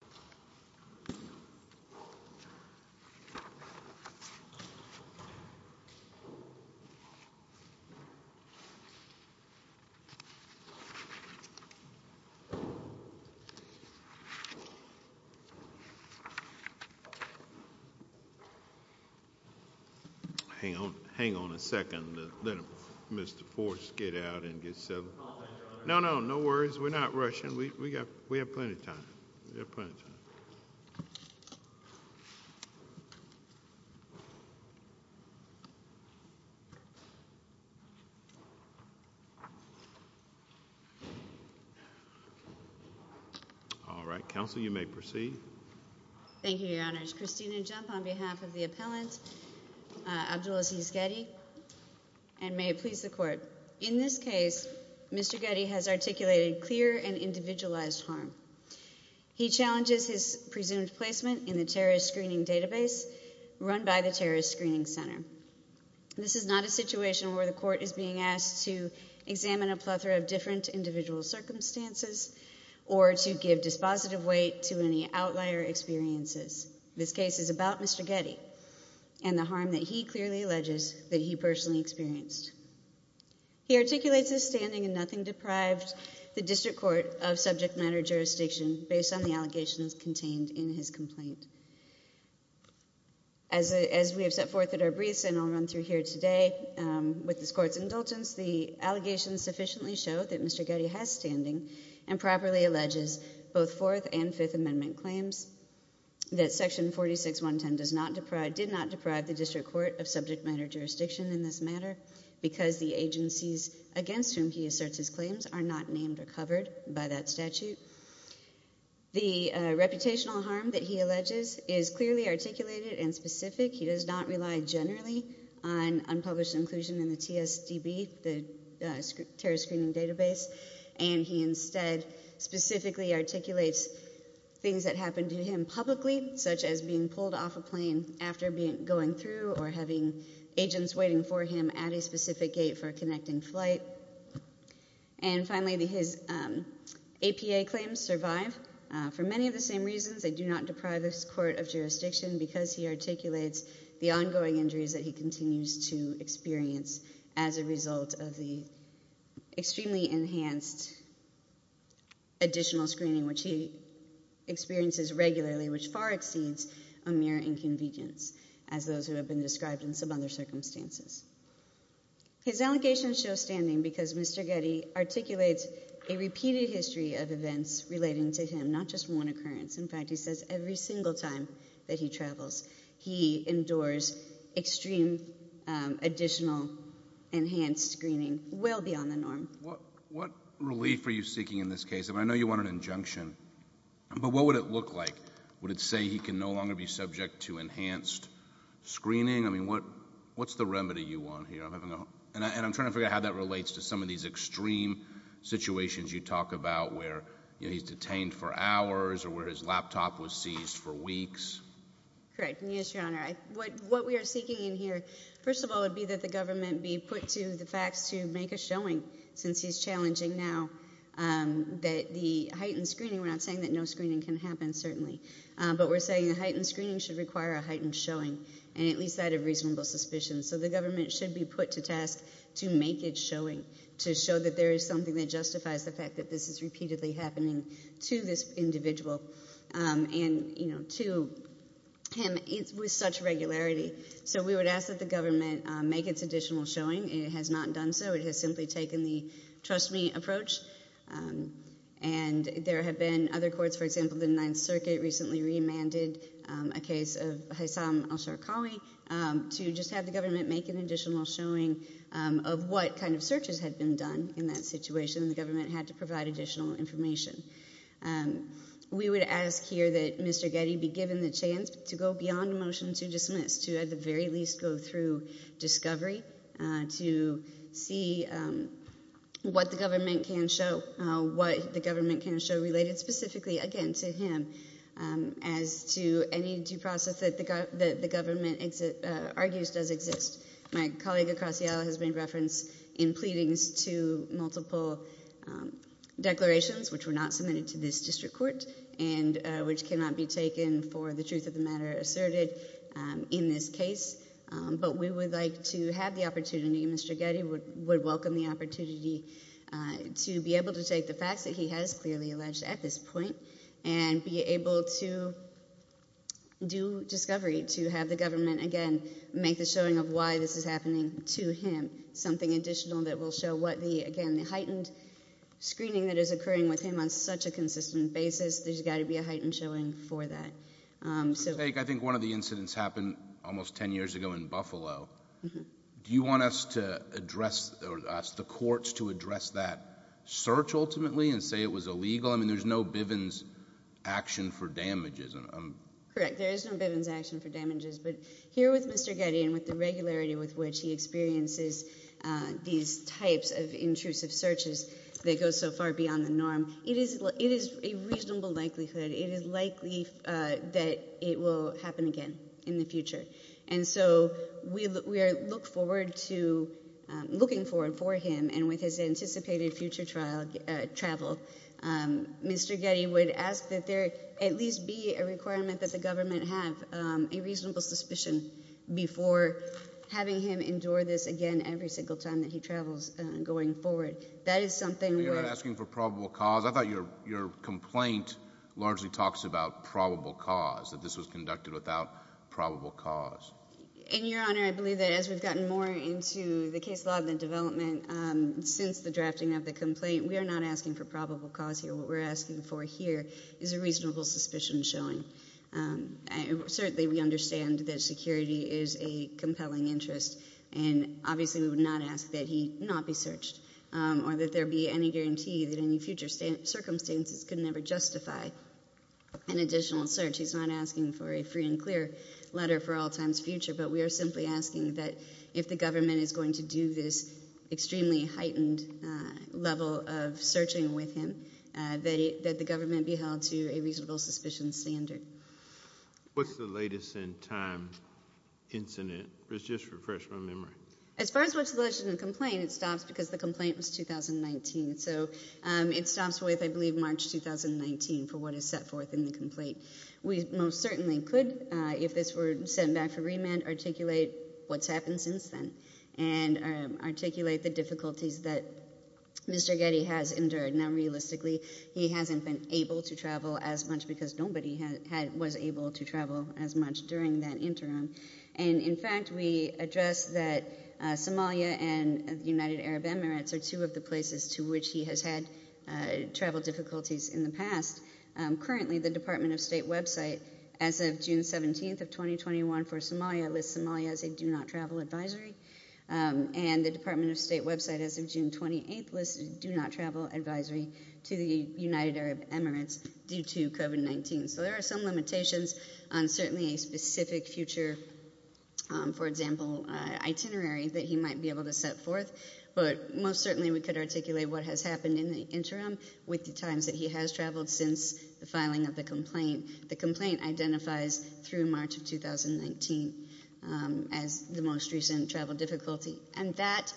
Mayorkas v. Mayorkas Mayorkas v. Mayorkas He challenges his presumed placement in the terrorist screening database run by the terrorist screening center. This is not a situation where the court is being asked to examine a plethora of different individual circumstances or to give dispositive weight to any outlier experiences. This case is about Mr. Gedi and the harm that he clearly alleges that he personally experienced. He articulates his standing in nothing deprived the district court of subject matter jurisdiction based on the allegations contained in his complaint. As we have set forth at our briefs and I'll run through here today, with this court's indulgence the allegations sufficiently show that Mr. Gedi has standing and properly alleges both Fourth and Fifth Amendment claims that section 46.110 did not deprive the district court of subject matter jurisdiction in this matter because the agencies against whom he asserts his claims are not named or covered by that statute. The reputational harm that he alleges is clearly articulated and specific. He does not rely generally on unpublished inclusion in the TSDB, the terrorist screening database, and he instead specifically articulates things that happened to him publicly such as being pulled off a plane after going through or having agents waiting for him at a specific gate for a connecting flight. And finally, his APA claims survive for many of the same reasons. They do not deprive this court of jurisdiction because he articulates the ongoing injuries that he continues to experience as a result of the extremely enhanced additional screening which he experiences regularly which far exceeds a mere inconvenience as those who have been described in some other circumstances. His allegations show standing because Mr. Gedi articulates a repeated history of events relating to him, not just one occurrence. In fact, he says every single time that he travels he endures extreme additional enhanced screening well beyond the norm. Your Honor, what relief are you seeking in this case? I mean I know you want an injunction, but what would it look like? Would it say he can no longer be subject to enhanced screening? I mean what's the remedy you want here? And I'm trying to figure out how that relates to some of these extreme situations you talk about where he's detained for hours or where his laptop was seized for weeks. Correct. Yes, Your Honor. What we are seeking in here, first of all, would be that the government be put to the facts to make a showing since he's challenging now the heightened screening. We're not saying that no screening can happen, certainly, but we're saying a heightened screening should require a heightened showing, and at least that of reasonable suspicion. So the government should be put to task to make it showing, to show that there is something that justifies the fact that this is repeatedly happening to this individual and to him with such regularity. So we would ask that the government make its additional showing. It has not done so. It has simply taken the trust me approach. And there have been other courts, for example, the Ninth Circuit recently remanded a case of Hassam al-Sharqawi to just have the government make an additional showing of what kind of searches had been done in that situation, and the government had to provide additional information. We would ask here that Mr. Getty be given the chance to go beyond a motion to dismiss to at the very least go through discovery to see what the government can show, what the government can show related specifically, again, to him, as to any due process that the government argues does exist. My colleague Acasio has made reference in pleadings to multiple declarations, which were not submitted to this district court and which cannot be taken for the truth of the matter asserted in this case. But we would like to have the opportunity, Mr. Getty would welcome the opportunity, to be able to take the facts that he has clearly alleged at this point and be able to do discovery to have the government again make the showing of why this is happening to him, something additional that will show what the, again, the heightened screening that is occurring with him on such a consistent basis, there's got to be a heightened showing for that. I think one of the incidents happened almost 10 years ago in Buffalo. Do you want us to address, or ask the courts to address that search ultimately and say it was illegal? I mean, there's no Bivens action for damages. Correct, there is no Bivens action for damages. But here with Mr. Getty and with the regularity with which he experiences these types of intrusive searches that go so far beyond the norm, it is a reasonable likelihood, it is likely that it will happen again in the future. And so we look forward to looking forward for him and with his anticipated future travel, Mr. Getty would ask that there at least be a requirement that the government have a reasonable suspicion before having him endure this again every single time that he travels going forward. That is something we are asking for probable cause. I thought your complaint largely talks about probable cause, that this was conducted without probable cause. And, Your Honor, I believe that as we've gotten more into the case law and the development since the drafting of the complaint, we are not asking for probable cause here. What we're asking for here is a reasonable suspicion showing. Certainly we understand that security is a compelling interest, or that there be any guarantee that any future circumstances could never justify an additional search. He's not asking for a free and clear letter for all time's future, but we are simply asking that if the government is going to do this extremely heightened level of searching with him, that the government be held to a reasonable suspicion standard. What's the latest in time incident? Just to refresh my memory. As far as what's the latest in the complaint, it stops because the complaint was 2019. So it stops with, I believe, March 2019 for what is set forth in the complaint. We most certainly could, if this were sent back for remand, articulate what's happened since then and articulate the difficulties that Mr. Getty has endured. Now, realistically, he hasn't been able to travel as much because nobody was able to travel as much during that interim. And, in fact, we address that Somalia and the United Arab Emirates are two of the places to which he has had travel difficulties in the past. Currently, the Department of State website, as of June 17th of 2021 for Somalia, lists Somalia as a do-not-travel advisory. And the Department of State website, as of June 28th, lists do-not-travel advisory to the United Arab Emirates due to COVID-19. So there are some limitations on certainly a specific future, for example, itinerary that he might be able to set forth. But most certainly we could articulate what has happened in the interim with the times that he has traveled since the filing of the complaint. The complaint identifies through March of 2019 as the most recent travel difficulty. And that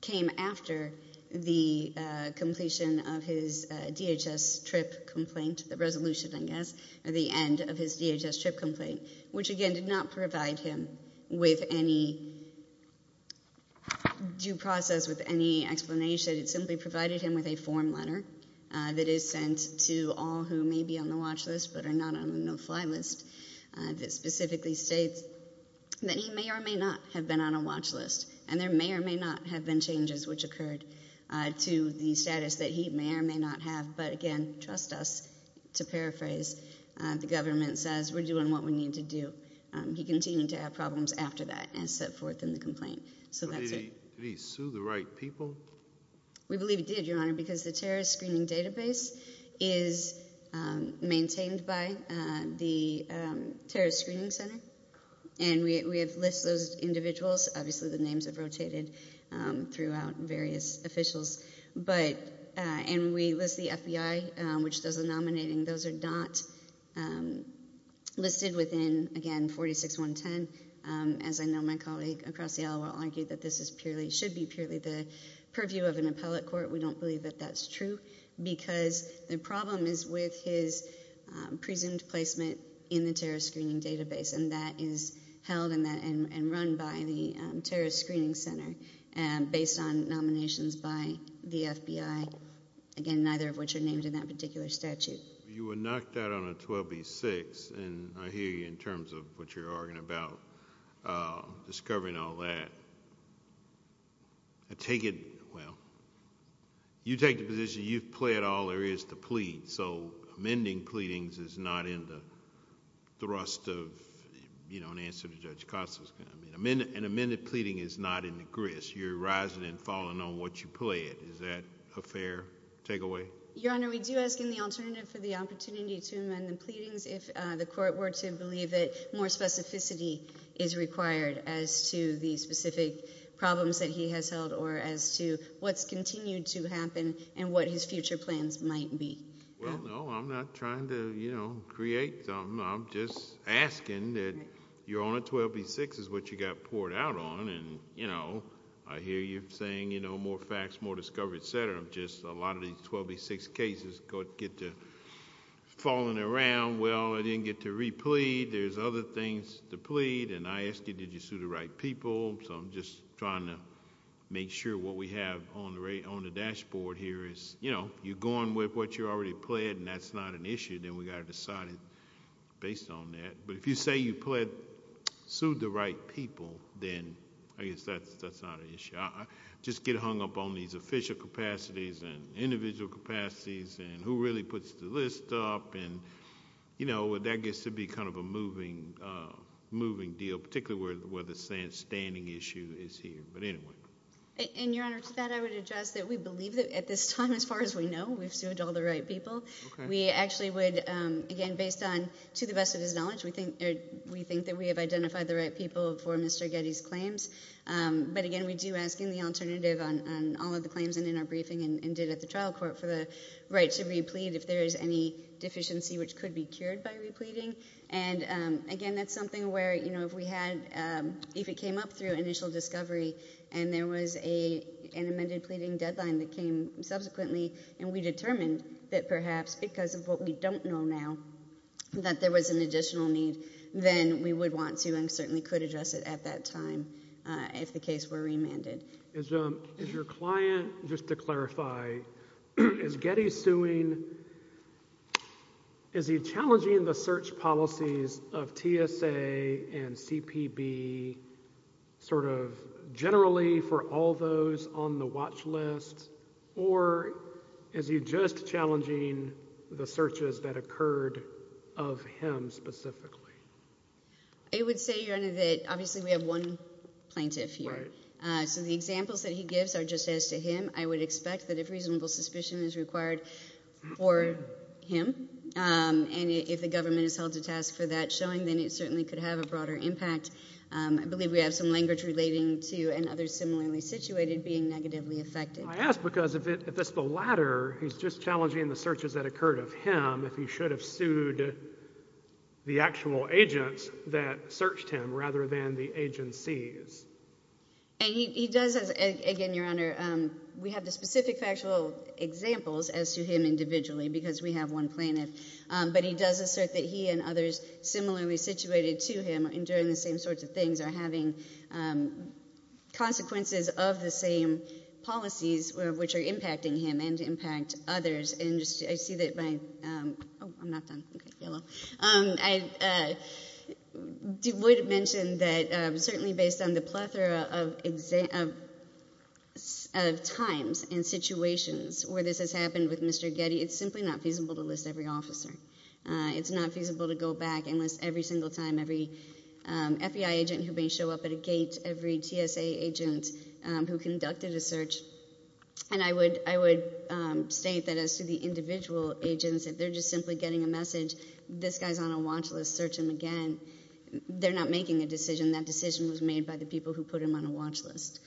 came after the completion of his DHS trip complaint, the resolution, I guess, or the end of his DHS trip complaint, which, again, did not provide him with any due process with any explanation. It simply provided him with a form letter that is sent to all who may be on the watch list but are not on the no-fly list that specifically states that he may or may not have been on a watch list. And there may or may not have been changes which occurred to the status that he may or may not have. But again, trust us to paraphrase, the government says we're doing what we need to do. He continued to have problems after that and set forth in the complaint. So that's it. Did he sue the right people? We believe he did, Your Honor, because the terrorist screening database is maintained by the terrorist screening center. And we have listed those individuals. Obviously, the names have rotated throughout various officials. And we list the FBI, which does the nominating. Those are not listed within, again, 46-110. As I know my colleague across the aisle will argue that this should be purely the purview of an appellate court. We don't believe that that's true because the problem is with his presumed placement in the terrorist screening database. And that is held and run by the terrorist screening center based on nominations by the FBI, again, neither of which are named in that particular statute. You were knocked out on a 12b-6, and I hear you in terms of what you're arguing about, discovering all that. I take it, well, you take the position you've pled all there is to plead. So amending pleadings is not in the thrust of an answer to Judge Costner's comment. An amended pleading is not in the grist. You're rising and falling on what you pled. Is that a fair takeaway? Your Honor, we do ask in the alternative for the opportunity to amend the pleadings if the court were to believe that more specificity is required as to the specific problems that he has held or as to what's continued to happen and what his future plans might be. Well, no, I'm not trying to create them. I'm just asking that you're on a 12b-6 is what you got poured out on, where just a lot of these 12b-6 cases get to falling around. Well, I didn't get to replead. There's other things to plead, and I ask you, did you sue the right people? So I'm just trying to make sure what we have on the dashboard here is, you know, you're going with what you already pled, and that's not an issue. Then we've got to decide based on that. But if you say you pled, sued the right people, then I guess that's not an issue. I just get hung up on these official capacities and individual capacities and who really puts the list up, and, you know, that gets to be kind of a moving deal, particularly where the standing issue is here. But anyway. And, Your Honor, to that I would address that we believe that at this time, as far as we know, we've sued all the right people. We actually would, again, based on, to the best of his knowledge, we think that we have identified the right people for Mr. Getty's claims. But, again, we do ask in the alternative on all of the claims and in our briefing and did at the trial court for the right to replete if there is any deficiency which could be cured by repleting. And, again, that's something where, you know, if we had, if it came up through initial discovery and there was an amended pleading deadline that came subsequently and we determined that perhaps because of what we don't know now, that there was an additional need, then we would want to certainly could address it at that time if the case were remanded. Is your client, just to clarify, is Getty suing, is he challenging the search policies of TSA and CPB sort of generally for all those on the watch list, or is he just challenging the searches that occurred of him specifically? I would say, Your Honor, that obviously we have one plaintiff here. Right. So the examples that he gives are just as to him. I would expect that if reasonable suspicion is required for him and if the government has held a task for that showing, then it certainly could have a broader impact. I believe we have some language relating to another similarly situated being negatively affected. I ask because if it's the latter, he's just challenging the searches that occurred of him if he should have sued the actual agents that searched him rather than the agencies. He does, again, Your Honor, we have the specific factual examples as to him individually because we have one plaintiff, but he does assert that he and others similarly situated to him enduring the same sorts of things are having consequences of the same policies which are impacting him and impact others. I would mention that certainly based on the plethora of times and situations where this has happened with Mr. Getty, it's simply not feasible to list every officer. It's not feasible to go back and list every single time every FBI agent who may show up at a gate, every TSA agent who conducted a search. And I would state that as to the individual agents, if they're just simply getting a message, this guy's on a watch list, search him again. They're not making a decision. That decision was made by the people who put him on a watch list.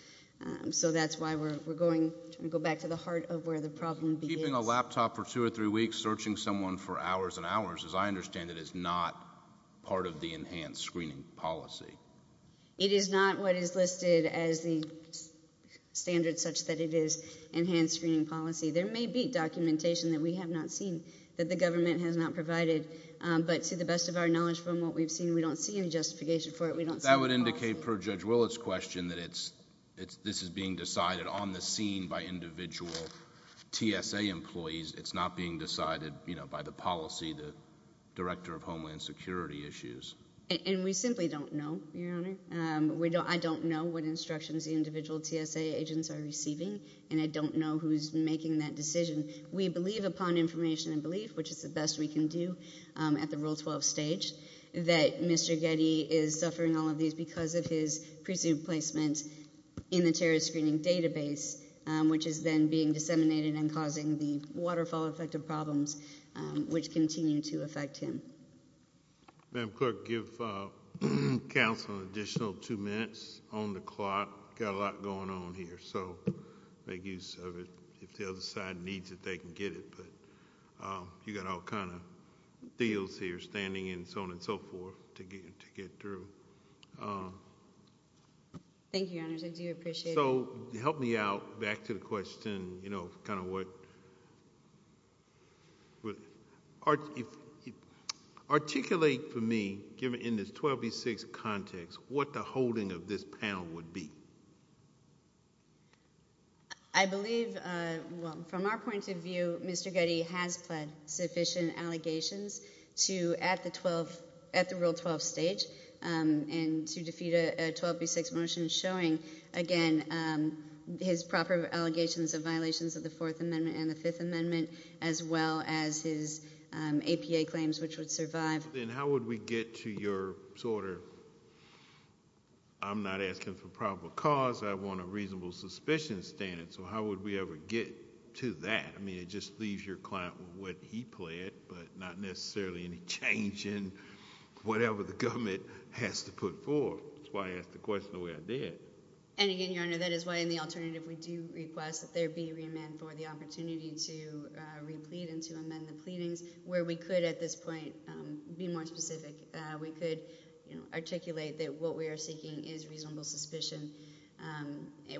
So that's why we're going to go back to the heart of where the problem begins. Keeping a laptop for two or three weeks, searching someone for hours and hours, as I understand it, is not part of the enhanced screening policy. It is not what is listed as the standard such that it is enhanced screening policy. There may be documentation that we have not seen that the government has not provided, but to the best of our knowledge from what we've seen, we don't see any justification for it. That would indicate per Judge Willett's question that this is being decided on the scene by individual TSA employees. It's not being decided by the policy, the director of Homeland Security issues. And we simply don't know, Your Honor. I don't know what instructions the individual TSA agents are receiving, and I don't know who's making that decision. We believe upon information and belief, which is the best we can do at the Rule 12 stage, that Mr. Getty is suffering all of these because of his presumed placement in the terrorist screening database, which is then being disseminated and causing the waterfall effect of problems, which continue to affect him. Madam Clerk, give counsel an additional two minutes on the clock. We've got a lot going on here, so make use of it. If the other side needs it, they can get it. But you've got all kinds of deals here, standing and so on and so forth, to get through. Thank you, Your Honor. I do appreciate it. So help me out back to the question, you know, kind of what ‑‑ articulate for me, given in this 12B6 context, what the holding of this panel would be. I believe, well, from our point of view, Mr. Getty has pled sufficient allegations to at the Rule 12 stage and to defeat a 12B6 motion showing, again, his proper allegations of violations of the Fourth Amendment and the Fifth Amendment, as well as his APA claims, which would survive. Then how would we get to your sort of I'm not asking for probable cause. I want a reasonable suspicion standard. So how would we ever get to that? I mean, it just leaves your client with what he pled, but not necessarily any change in whatever the government has to put forth. That's why I asked the question the way I did. And, again, Your Honor, that is why in the alternative we do request that there be a remand for the opportunity to replete and to amend the pleadings, where we could at this point be more specific. We could articulate that what we are seeking is reasonable suspicion,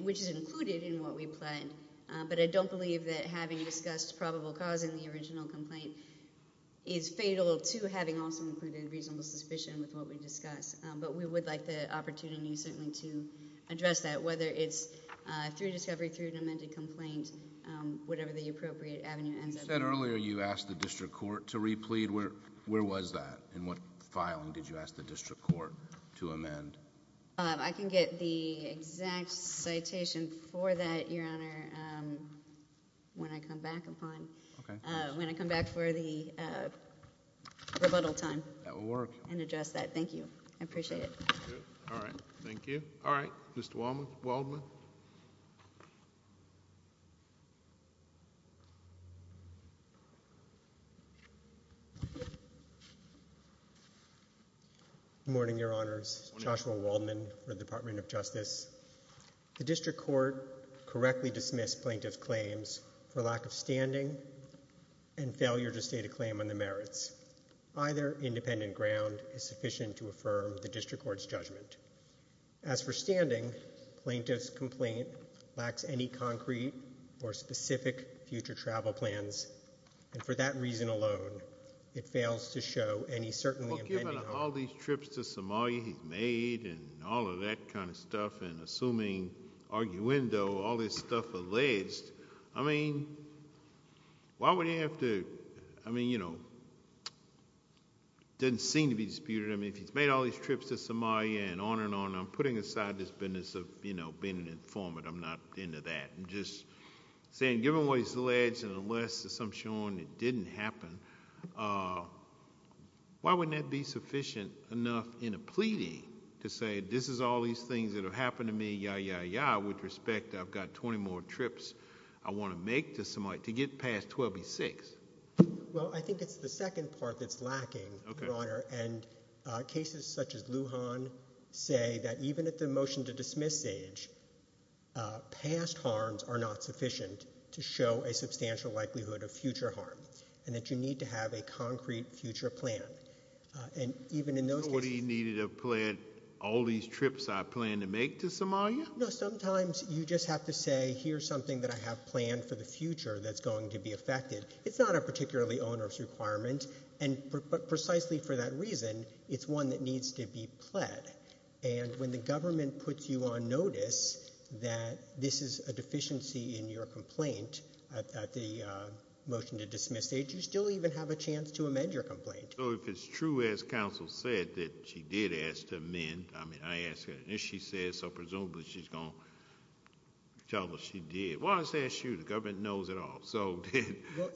which is included in what we pled. But I don't believe that having discussed probable cause in the original complaint is fatal to having also included reasonable suspicion with what we discussed. But we would like the opportunity certainly to address that, whether it's through discovery, through an amended complaint, whatever the appropriate avenue ends up being. You said earlier you asked the district court to replete. Where was that, and what filing did you ask the district court to amend? I can get the exact citation for that, Your Honor, when I come back for the rebuttal time. That will work. And address that. Thank you. I appreciate it. All right. Thank you. All right, Mr. Waldman. Good morning, Your Honors. Joshua Waldman for the Department of Justice. The district court correctly dismissed plaintiff's claims for lack of standing and failure to state a claim on the merits. Either independent ground is sufficient to affirm the district court's judgment. As for standing, plaintiff's complaint lacks any concrete or specific future travel plans. And for that reason alone, it fails to show any certainly impediment. Well, given all these trips to Somalia he's made and all of that kind of stuff, and assuming arguendo, all this stuff alleged, I mean, why would he have to, I mean, you know, it doesn't seem to be disputed. I mean, if he's made all these trips to Somalia and on and on, I'm putting aside this business of, you know, being an informant. I'm not into that. I'm just saying given what he's alleged and unless there's some showing it didn't happen, why wouldn't that be sufficient enough in a pleading to say this is all these things that have happened to me, ya, ya, ya, with respect, I've got 20 more trips I want to make to Somalia, to get past 12B6? Well, I think it's the second part that's lacking, Your Honor. And cases such as Lujan say that even at the motion to dismiss stage, past harms are not sufficient to show a substantial likelihood of future harm and that you need to have a concrete future plan. And even in those cases— So what he needed to plan all these trips I plan to make to Somalia? No, sometimes you just have to say here's something that I have planned for the future that's going to be affected. It's not a particularly onerous requirement. And precisely for that reason, it's one that needs to be pled. And when the government puts you on notice that this is a deficiency in your complaint at the motion to dismiss stage, you still even have a chance to amend your complaint. So if it's true as counsel said that she did ask to amend, I mean, I asked her, and if she said so, presumably she's going to tell us she did. Well, I said, shoot, the government knows it all. So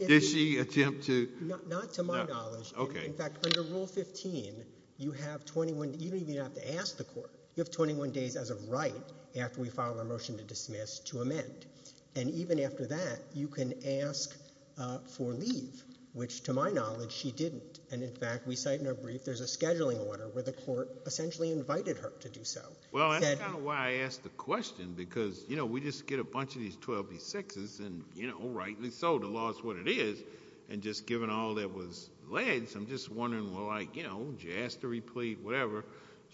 did she attempt to— Not to my knowledge. In fact, under Rule 15, you have 21—you don't even have to ask the court. You have 21 days as a right after we file a motion to dismiss to amend. And even after that, you can ask for leave, which to my knowledge she didn't. And, in fact, we cite in our brief there's a scheduling order where the court essentially invited her to do so. Well, that's kind of why I asked the question, because, you know, we just get a bunch of these 12B6s, and rightly so, the law is what it is. And just given all that was alleged, I'm just wondering, well, like, you know, did you ask to replete, whatever.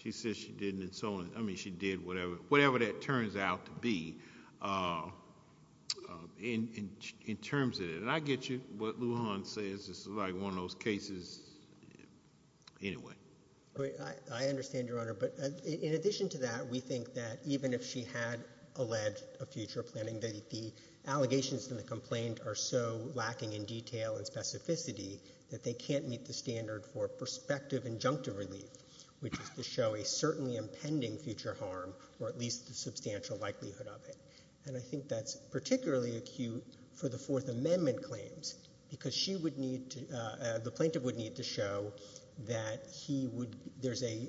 She says she didn't and so on. I mean, she did whatever that turns out to be. In terms of it, and I get you what Lujan says. This is like one of those cases. I understand, Your Honor. But in addition to that, we think that even if she had alleged a future planning, the allegations in the complaint are so lacking in detail and specificity that they can't meet the standard for prospective injunctive relief, which is to show a certainly impending future harm, or at least the substantial likelihood of it. And I think that's particularly acute for the Fourth Amendment claims, because the plaintiff would need to show that there's a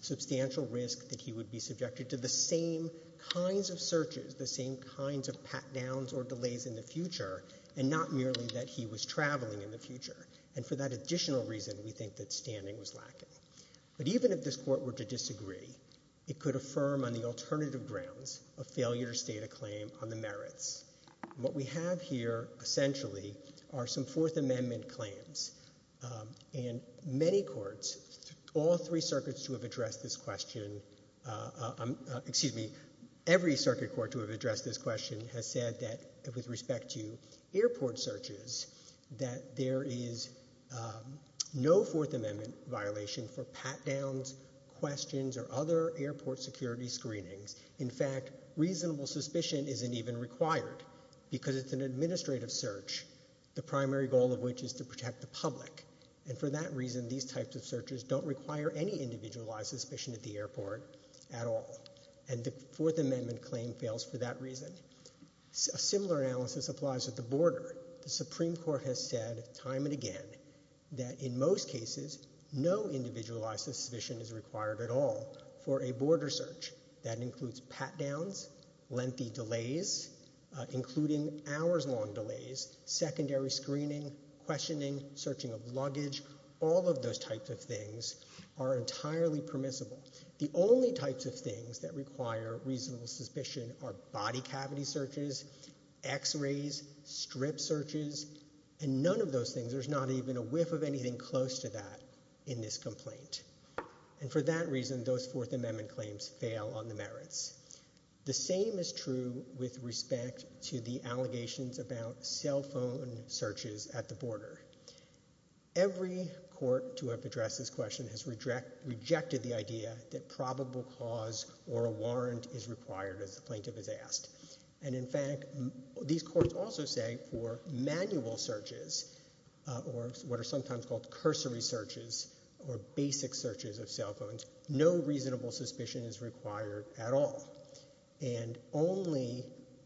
substantial risk that he would be subjected to the same kinds of searches, the same kinds of pat-downs or delays in the future, and not merely that he was traveling in the future. And for that additional reason, we think that standing was lacking. But even if this Court were to disagree, it could affirm on the alternative grounds a failure to state a claim on the merits. What we have here, essentially, are some Fourth Amendment claims. And many courts, all three circuits who have addressed this question, excuse me, every circuit court who have addressed this question, has said that with respect to airport searches, that there is no Fourth Amendment violation for pat-downs, questions, or other airport security screenings. In fact, reasonable suspicion isn't even required because it's an administrative search, the primary goal of which is to protect the public. And for that reason, these types of searches don't require any individualized suspicion at the airport at all. And the Fourth Amendment claim fails for that reason. A similar analysis applies at the border. The Supreme Court has said time and again that in most cases, no individualized suspicion is required at all for a border search. That includes pat-downs, lengthy delays, including hours-long delays, secondary screening, questioning, searching of luggage, all of those types of things are entirely permissible. The only types of things that require reasonable suspicion are body cavity searches, X-rays, strip searches, and none of those things, there's not even a whiff of anything close to that in this complaint. And for that reason, those Fourth Amendment claims fail on the merits. The same is true with respect to the allegations about cell phone searches at the border. Every court to have addressed this question has rejected the idea that probable cause or a warrant is required as the plaintiff has asked. And in fact, these courts also say for manual searches or what are sometimes called cursory searches or basic searches of cell phones, no reasonable suspicion is required at all. And only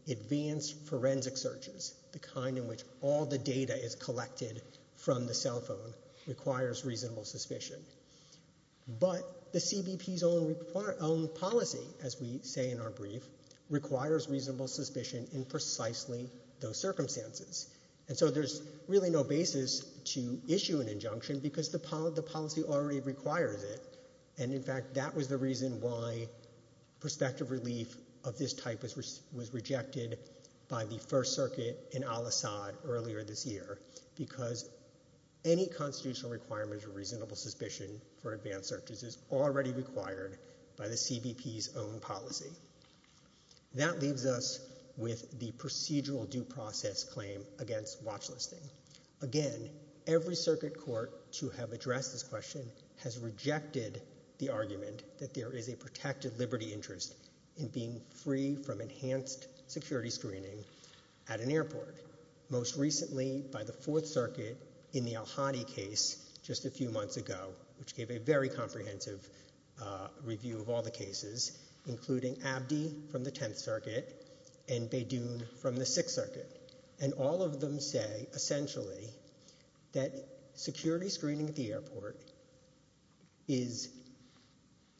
advanced forensic searches, the kind in which all the data is collected from the cell phone, requires reasonable suspicion. But the CBP's own policy, as we say in our brief, requires reasonable suspicion in precisely those circumstances. And so there's really no basis to issue an injunction because the policy already requires it. And in fact, that was the reason why prospective relief of this type was rejected by the First Circuit in Al-Assad earlier this year because any constitutional requirement of reasonable suspicion for advanced searches is already required by the CBP's own policy. That leaves us with the procedural due process claim against watch listing. Again, every circuit court to have addressed this question has rejected the argument that there is a protected liberty interest in being free from enhanced security screening at an airport, most recently by the Fourth Circuit in the al-Hadi case just a few months ago, which gave a very comprehensive review of all the cases, including Abdi from the Tenth Circuit and Beydoun from the Sixth Circuit. And all of them say, essentially, that security screening at the airport is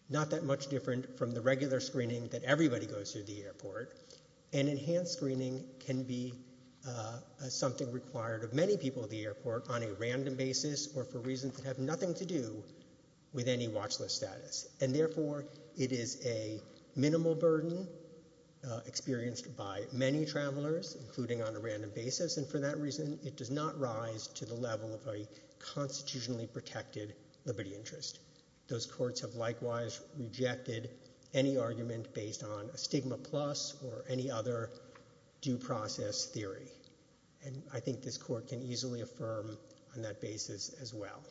not that much different from the regular screening that everybody goes through the airport. And enhanced screening can be something required of many people at the airport on a random basis or for reasons that have nothing to do with any watch list status. And therefore, it is a minimal burden experienced by many travelers, including on a random basis. And for that reason, it does not rise to the level of a constitutionally protected liberty interest. Those courts have likewise rejected any argument based on a stigma plus or any other due process theory. And I think this court can easily affirm on that basis as well.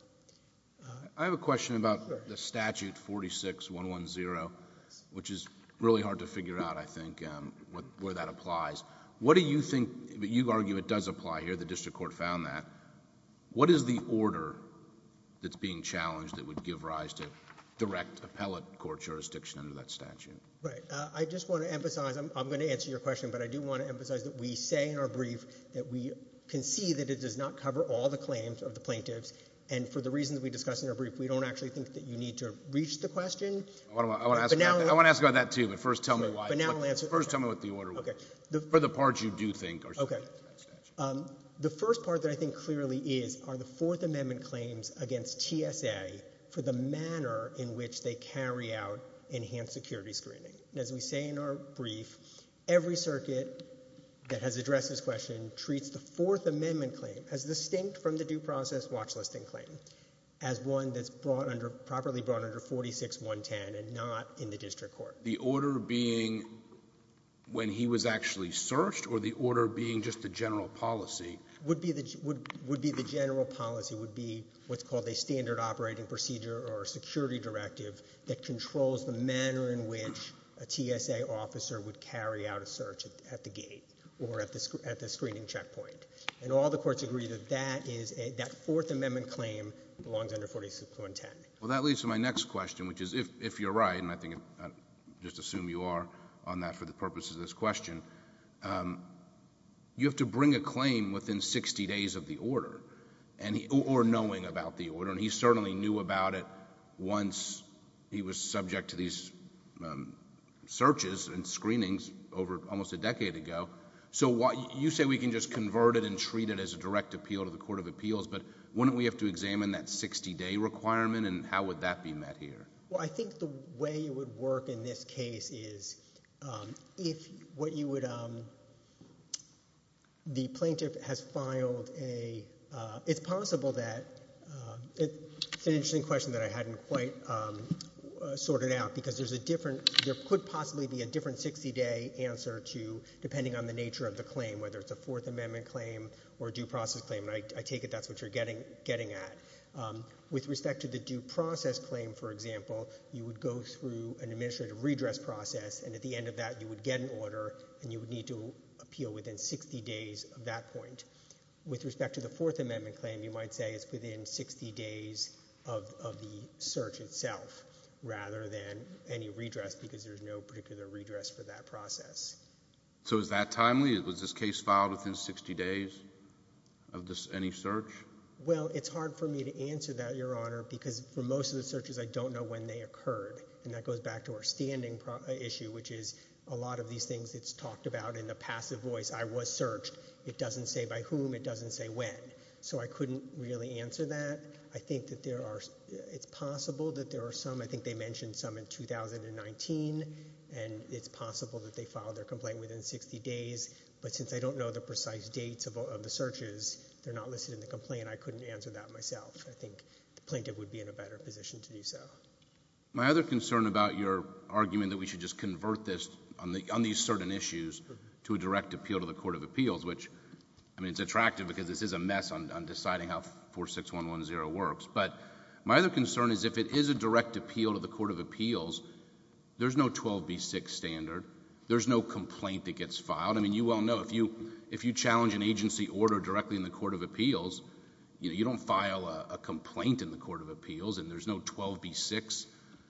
I have a question about the statute 46-110, which is really hard to figure out, I think, where that applies. What do you think—you argue it does apply here. The district court found that. What is the order that's being challenged that would give rise to direct appellate court jurisdiction under that statute? Right. I just want to emphasize—I'm going to answer your question, but I do want to emphasize that we say in our brief that we concede that it does not cover all the claims of the plaintiffs. And for the reasons we discuss in our brief, we don't actually think that you need to reach the question. I want to ask about that, too, but first tell me why. But now I'll answer— First tell me what the order was for the parts you do think are subject to that statute. The first part that I think clearly is are the Fourth Amendment claims against TSA for the manner in which they carry out enhanced security screening. And as we say in our brief, every circuit that has addressed this question treats the Fourth Amendment claim as distinct from the due process watchlisting claim, as one that's brought under—properly brought under 46.110 and not in the district court. The order being when he was actually searched or the order being just the general policy? Would be the general policy, would be what's called a standard operating procedure or a security directive that controls the manner in which a TSA officer would carry out a search at the gate or at the screening checkpoint. And all the courts agree that that is a—that Fourth Amendment claim belongs under 46.110. Well, that leads to my next question, which is if you're right, and I think I just assume you are on that for the purposes of this question, you have to bring a claim within 60 days of the order or knowing about the order. And he certainly knew about it once he was subject to these searches and screenings over almost a decade ago. So you say we can just convert it and treat it as a direct appeal to the Court of Appeals, but wouldn't we have to examine that 60-day requirement and how would that be met here? Well, I think the way it would work in this case is if what you would—the plaintiff has filed a— it's possible that—it's an interesting question that I hadn't quite sorted out because there's a different—there could possibly be a different 60-day answer to, depending on the nature of the claim, whether it's a Fourth Amendment claim or a due process claim, and I take it that's what you're getting at. With respect to the due process claim, for example, you would go through an administrative redress process, and at the end of that you would get an order and you would need to appeal within 60 days of that point. With respect to the Fourth Amendment claim, you might say it's within 60 days of the search itself rather than any redress because there's no particular redress for that process. So is that timely? Was this case filed within 60 days of any search? Well, it's hard for me to answer that, Your Honor, because for most of the searches I don't know when they occurred, and that goes back to our standing issue, which is a lot of these things it's talked about in the passive voice, I was searched, it doesn't say by whom, it doesn't say when. So I couldn't really answer that. I think that there are—it's possible that there are some, I think they mentioned some in 2019, and it's possible that they filed their complaint within 60 days, but since I don't know the precise dates of the searches, they're not listed in the complaint, I couldn't answer that myself. I think the plaintiff would be in a better position to do so. My other concern about your argument that we should just convert this on these certain issues to a direct appeal to the Court of Appeals, which, I mean, it's attractive because this is a mess on deciding how 46110 works, but my other concern is if it is a direct appeal to the Court of Appeals, there's no 12B6 standard. There's no complaint that gets filed. I mean, you well know if you challenge an agency order directly in the Court of Appeals, you know, you don't file a complaint in the Court of Appeals, and there's no 12B6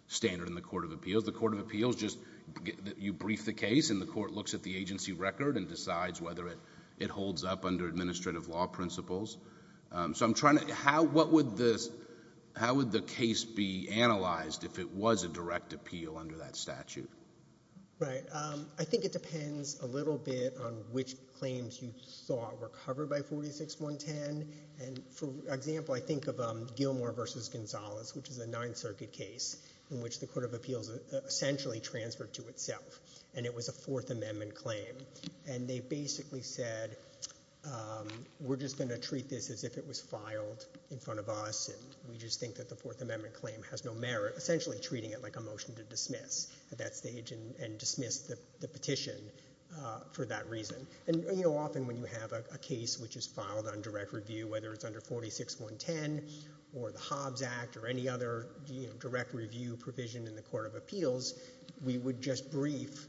standard in the Court of Appeals. The Court of Appeals just—you brief the case, and the court looks at the agency record and decides whether it holds up under administrative law principles. So I'm trying to—how would the case be analyzed if it was a direct appeal under that statute? Right. I think it depends a little bit on which claims you thought were covered by 46110, and for example, I think of Gilmore v. Gonzalez, which is a Ninth Circuit case in which the Court of Appeals essentially transferred to itself, and it was a Fourth Amendment claim, and they basically said we're just going to treat this as if it was filed in front of us, and we just think that the Fourth Amendment claim has no merit, essentially treating it like a motion to dismiss at that stage and dismiss the petition for that reason. And, you know, often when you have a case which is filed on direct review, whether it's under 46110 or the Hobbs Act or any other direct review provision in the Court of Appeals, we would just brief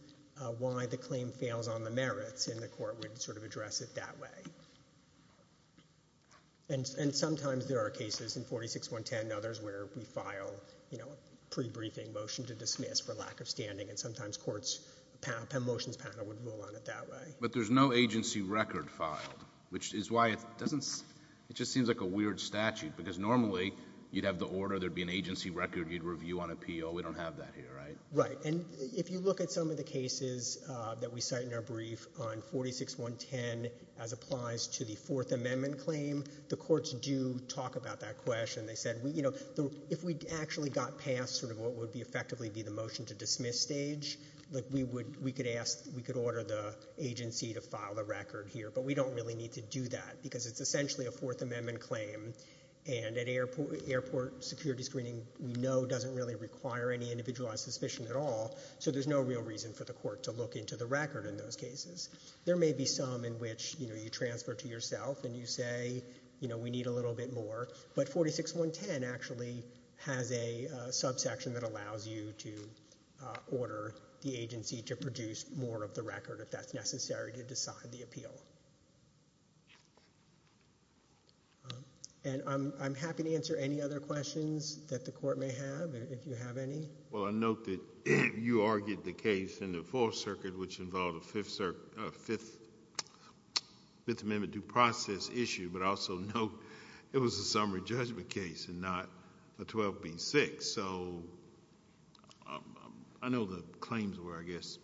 why the claim fails on the merits, and the court would sort of address it that way. And sometimes there are cases in 46110 and others where we file a pre-briefing motion to dismiss for lack of standing, and sometimes courts' motions panel would rule on it that way. But there's no agency record filed, which is why it doesn't seem like a weird statute, because normally you'd have the order, there would be an agency record you'd review on appeal. We don't have that here, right? Right. And if you look at some of the cases that we cite in our brief on 46110 as applies to the Fourth Amendment claim, the courts do talk about that question. They said, you know, if we actually got past sort of what would effectively be the motion to dismiss stage, we could order the agency to file the record here, but we don't really need to do that because it's essentially a Fourth Amendment claim, and airport security screening we know doesn't really require any individualized suspicion at all, so there's no real reason for the court to look into the record in those cases. There may be some in which, you know, you transfer to yourself and you say, you know, we need a little bit more, but 46110 actually has a subsection that allows you to order the agency to produce more of the record, if that's necessary, to decide the appeal. And I'm happy to answer any other questions that the court may have, if you have any. Well, I note that you argued the case in the Fourth Circuit which involved a Fifth Amendment due process issue, but I also note it was a summary judgment case and not a 12B-6, so I know the claims were, I guess,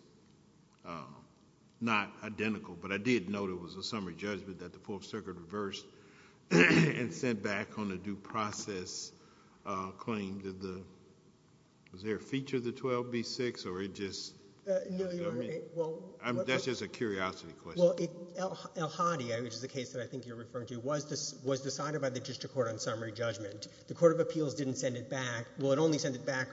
not identical, but I did note it was a summary judgment that the Fourth Circuit reversed and sent back on a due process claim. Did the ‑‑ was there a feature of the 12B-6, or it just ‑‑ No, you're right. That's just a curiosity question. Well, El Hadi, which is the case that I think you're referring to, was decided by the District Court on summary judgment. The Court of Appeals didn't send it back. Well, it only sent it back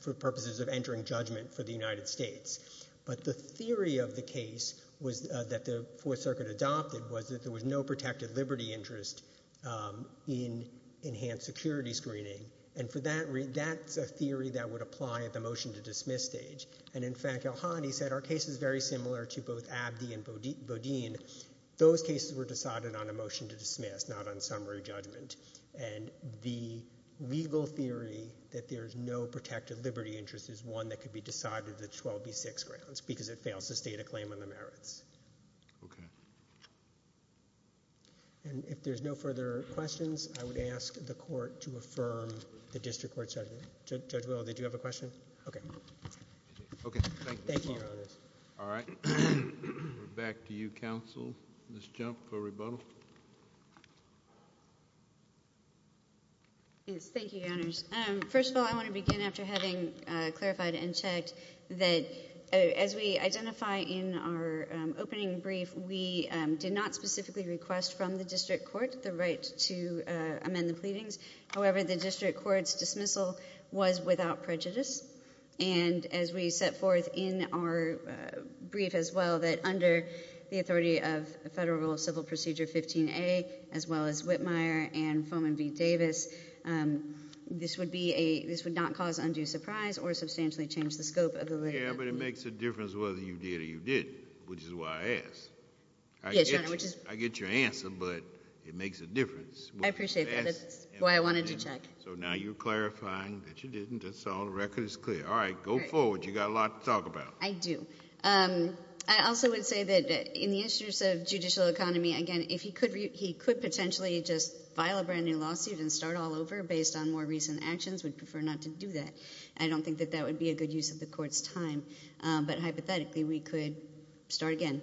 for purposes of entering judgment for the United States, but the theory of the case that the Fourth Circuit adopted was that there was no protected liberty interest in enhanced security screening, and for that ‑‑ that's a theory that would apply at the motion to dismiss stage, and, in fact, El Hadi said our case is very similar to both Abdi and Bodine. Those cases were decided on a motion to dismiss, not on summary judgment, and the legal theory that there's no protected liberty interest is one that could be decided at 12B-6 grounds because it fails to state a claim on the merits. Okay. And if there's no further questions, I would ask the Court to affirm the District Court judgment. Judge Will, did you have a question? Okay. Thank you, Your Honors. All right. Back to you, Counsel. Ms. Jump for rebuttal. Yes. Thank you, Your Honors. First of all, I want to begin after having clarified and checked that as we identify in our opening brief, we did not specifically request from the District Court the right to amend the pleadings. However, the District Court's dismissal was without prejudice, and as we set forth in our brief as well that under the authority of Federal Civil Procedure 15A, as well as Whitmire and Foman v. Davis, this would be a ‑‑ this would not cause undue surprise or substantially change the scope of the litigation. Yeah, but it makes a difference whether you did or you didn't, which is why I asked. Yes, Your Honor. I get your answer, but it makes a difference. I appreciate that. That's why I wanted to check. So now you're clarifying that you didn't. That's all. The record is clear. All right. Go forward. You've got a lot to talk about. I do. I also would say that in the issues of judicial economy, again, if he could potentially just file a brand-new lawsuit and start all over based on more recent actions, we'd prefer not to do that. I don't think that that would be a good use of the Court's time, but hypothetically we could start again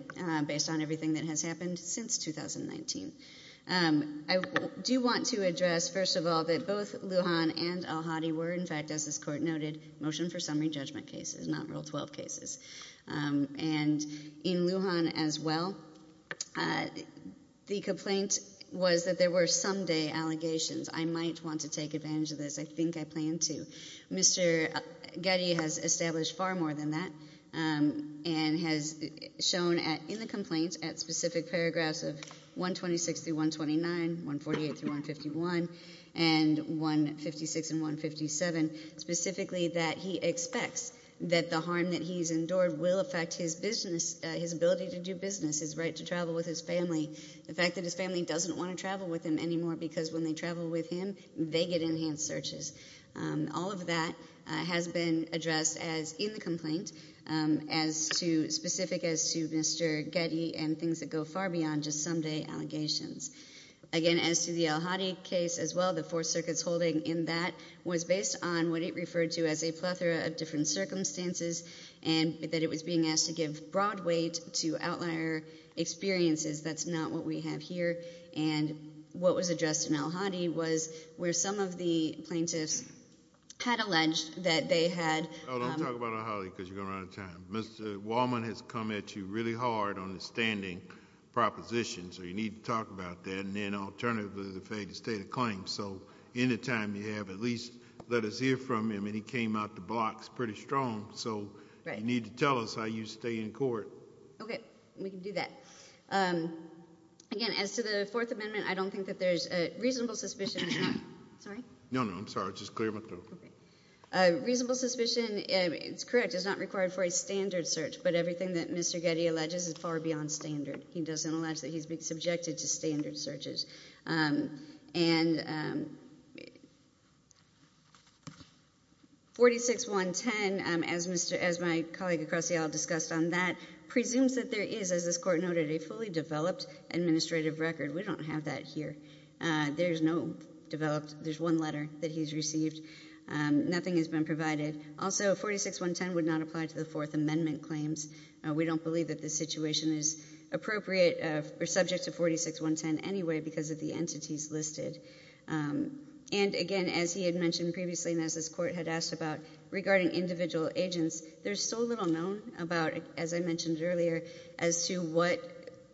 based on everything that has happened since 2019. I do want to address, first of all, that both Lujan and Elhadi were, in fact, as this Court noted, motion for summary judgment cases, not Rule 12 cases. And in Lujan as well, the complaint was that there were someday allegations. I might want to take advantage of this. I think I plan to. Mr. Getty has established far more than that and has shown in the complaint at specific paragraphs of 126 through 129, 148 through 151, and 156 and 157, specifically that he expects that the harm that he's endured will affect his business, his ability to do business, his right to travel with his family, the fact that his family doesn't want to travel with him anymore because when they travel with him, they get enhanced searches. All of that has been addressed as in the complaint as to specific as to Mr. Getty and things that go far beyond just someday allegations. Again, as to the Elhadi case as well, the Fourth Circuit's holding in that was based on what it referred to as a plethora of different circumstances and that it was being asked to give broad weight to outlier experiences. That's not what we have here. And what was addressed in Elhadi was where some of the plaintiffs had alleged that they had— Oh, don't talk about Elhadi because you're going to run out of time. Mr. Wallman has come at you really hard on the standing proposition, so you need to talk about that. And then alternatively, the failure to state a claim. So any time you have, at least let us hear from him, and he came out the blocks pretty strong. So you need to tell us how you stay in court. Okay. We can do that. Again, as to the Fourth Amendment, I don't think that there's reasonable suspicion. Sorry? No, no, I'm sorry. Just clear my throat. Reasonable suspicion, it's correct, is not required for a standard search, but everything that Mr. Getty alleges is far beyond standard. He doesn't allege that he's been subjected to standard searches. 46-110, as my colleague Acrosio discussed on that, presumes that there is, as this Court noted, a fully developed administrative record. We don't have that here. There's no developed—there's one letter that he's received. Nothing has been provided. Also, 46-110 would not apply to the Fourth Amendment claims. We don't believe that this situation is appropriate or subject to 46-110 anyway because of the entities listed. And again, as he had mentioned previously and as this Court had asked about regarding individual agents, there's so little known about, as I mentioned earlier, as to what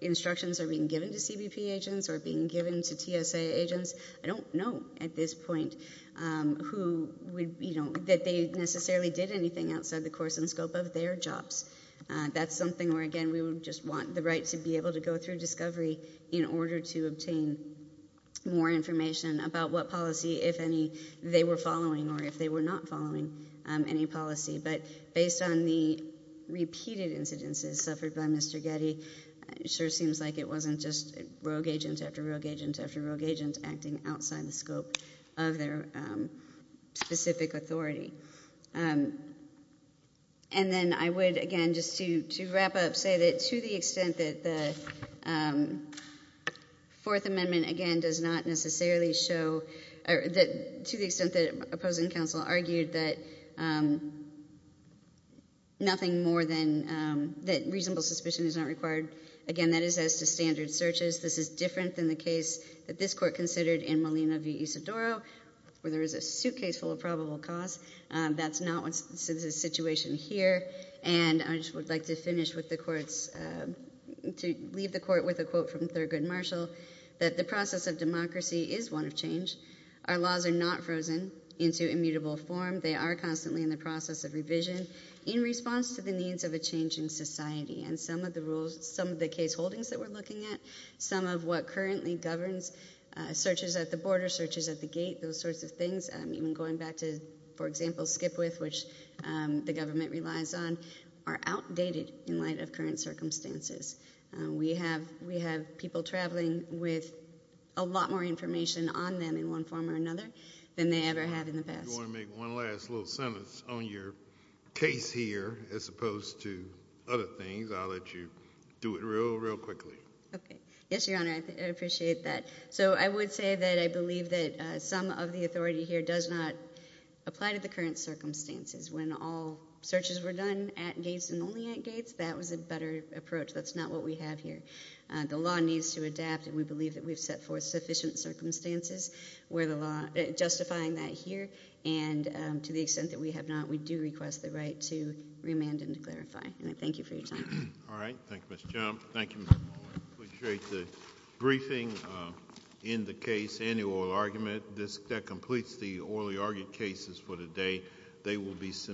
instructions are being given to CBP agents or being given to TSA agents. I don't know at this point who would—you know, that they necessarily did anything outside the course and scope of their jobs. That's something where, again, we would just want the right to be able to go through discovery in order to obtain more information about what policy, if any, they were following or if they were not following any policy. But based on the repeated incidences suffered by Mr. Getty, it sure seems like it wasn't just rogue agents after rogue agents after rogue agents acting outside the scope of their specific authority. And then I would, again, just to wrap up, say that to the extent that the Fourth Amendment, again, does not necessarily show—to the extent that opposing counsel argued that nothing more than— that reasonable suspicion is not required, again, that is as to standard searches. This is different than the case that this Court considered in Molina v. Isidoro where there is a suitcase full of probable cause. That's not the situation here. And I just would like to finish with the Court's—to leave the Court with a quote from Thurgood Marshall that the process of democracy is one of change. Our laws are not frozen into immutable form. They are constantly in the process of revision in response to the needs of a changing society. And some of the rules, some of the case holdings that we're looking at, some of what currently governs searches at the border, searches at the gate, those sorts of things, even going back to, for example, Skipwith, which the government relies on, are outdated in light of current circumstances. We have people traveling with a lot more information on them in one form or another than they ever have in the past. If you want to make one last little sentence on your case here as opposed to other things, I'll let you do it real, real quickly. Okay. Yes, Your Honor, I appreciate that. So I would say that I believe that some of the authority here does not apply to the current circumstances. When all searches were done at gates and only at gates, that was a better approach. That's not what we have here. The law needs to adapt, and we believe that we've set forth sufficient circumstances where the law, justifying that here, and to the extent that we have not, we do request the right to remand and to clarify. And I thank you for your time. All right. Thank you, Ms. Jump. Thank you, Mr. Malloy. I appreciate the briefing in the case, annual argument. That completes the orally argued cases for today.